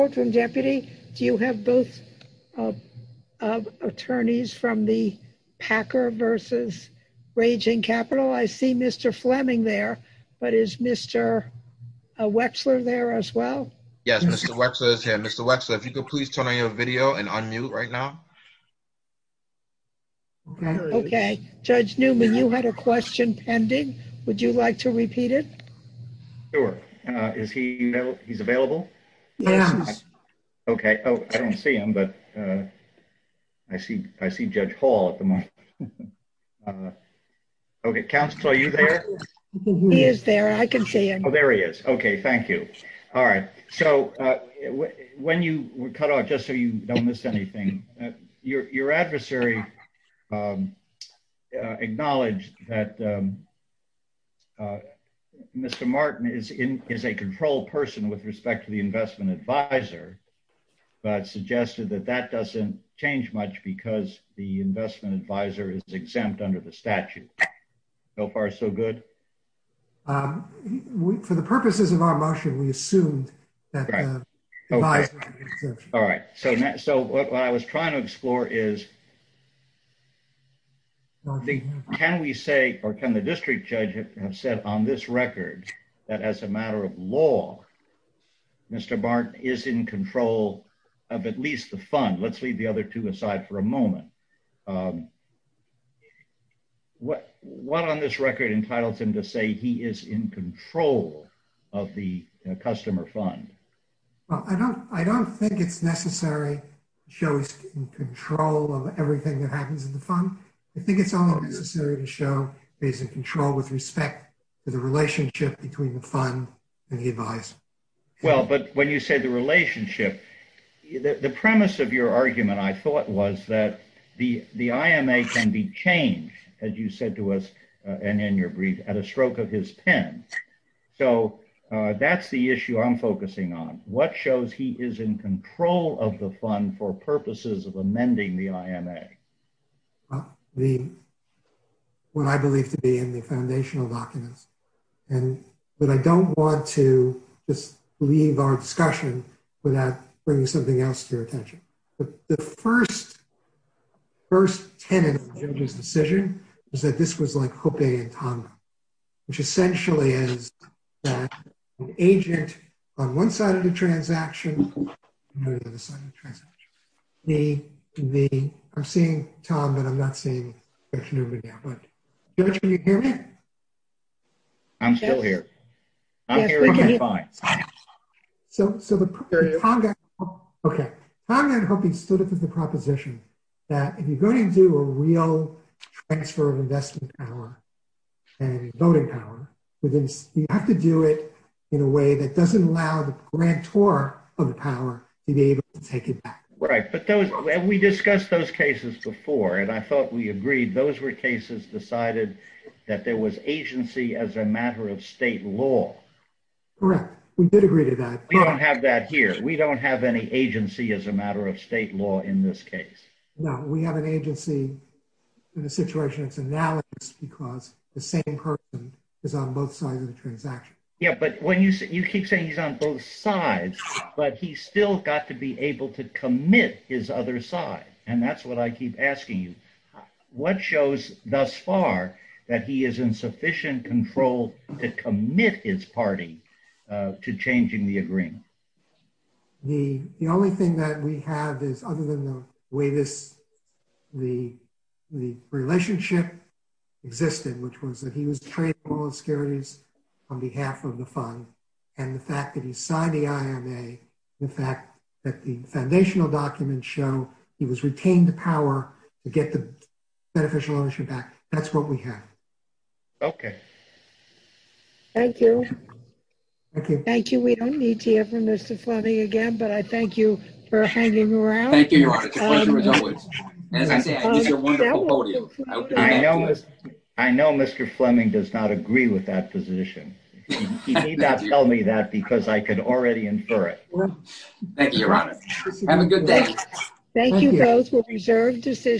Do you have both attorneys from the Packer v. Raging Capital? I see Mr. Fleming there, but is Mr. Wexler there as well? Yes, Mr. Wexler is here. Mr. Wexler, if you could please turn on your video and unmute right now. Okay. Judge Newman, you had a question pending. Would you like to repeat it? Sure. Is he available? Yes. Okay. Oh, I don't see him, but I see Judge Hall at the moment. Okay. Counselor, are you there? He is there. I can see him. Mr. Martin is a controlled person with respect to the investment advisor, but suggested that that doesn't change much because the investment advisor is exempt under the statute. So far so good? For the purposes of our motion, we assumed that the advisor was exempt. All right. So what I was trying to explore is, can we say, or can the district judge have said on this record that as a matter of law, Mr. Martin is in control of at least the fund? Let's leave the other two aside for a moment. What on this record entitles him to say he is in control of the customer fund? I don't think it's necessary to show he's in control of everything that happens in the fund. I think it's only necessary to show he's in control with respect to the relationship between the fund and the advisor. Well, but when you say the relationship, the premise of your argument, I thought, was that the IMA can be changed, as you said to us, and in your brief, at a stroke of his pen. So that's the issue I'm focusing on. What shows he is in control of the fund for purposes of amending the IMA? What I believe to be in the foundational documents. But I don't want to just leave our discussion without bringing something else to your attention. The first tenant of the judge's decision is that this was like Hoppe and Tonga, which essentially is an agent on one side of the transaction, and an agent on the other side of the transaction. I'm seeing Tom, but I'm not seeing Judge Newman yet. Judge, can you hear me? I'm still here. I'm hearing you fine. So Tonga and Hoppe stood up to the proposition that if you're going to do a real transfer of investment power and voting power, you have to do it in a way that doesn't allow the grantor of the power to be able to take it back. Right. But we discussed those cases before, and I thought we agreed those were cases decided that there was agency as a matter of state law. Correct. We did agree to that. We don't have that here. We don't have any agency as a matter of state law in this case. No, we have an agency in a situation that's analysed because the same person is on both sides of the transaction. Yeah, but you keep saying he's on both sides, but he's still got to be able to commit his other side. And that's what I keep asking you. What shows thus far that he is in sufficient control to commit his party to changing the agreement? The only thing that we have is other than the way this the relationship existed, which was that he was trading securities on behalf of the fund, and the fact that he signed the IMA, the fact that the foundational documents show he was retained the power to get the beneficial ownership back. That's what we have. Okay. Thank you. Thank you. We don't need to hear from Mr. Fleming again, but I thank you for hanging around. Thank you, Your Honor. It's a pleasure as always. As I said, it's a wonderful podium. I know Mr. Fleming does not agree with that position. He did not tell me that because I could already infer it. Thank you, Your Honor. Have a good day. Thank you both for reserved decisions.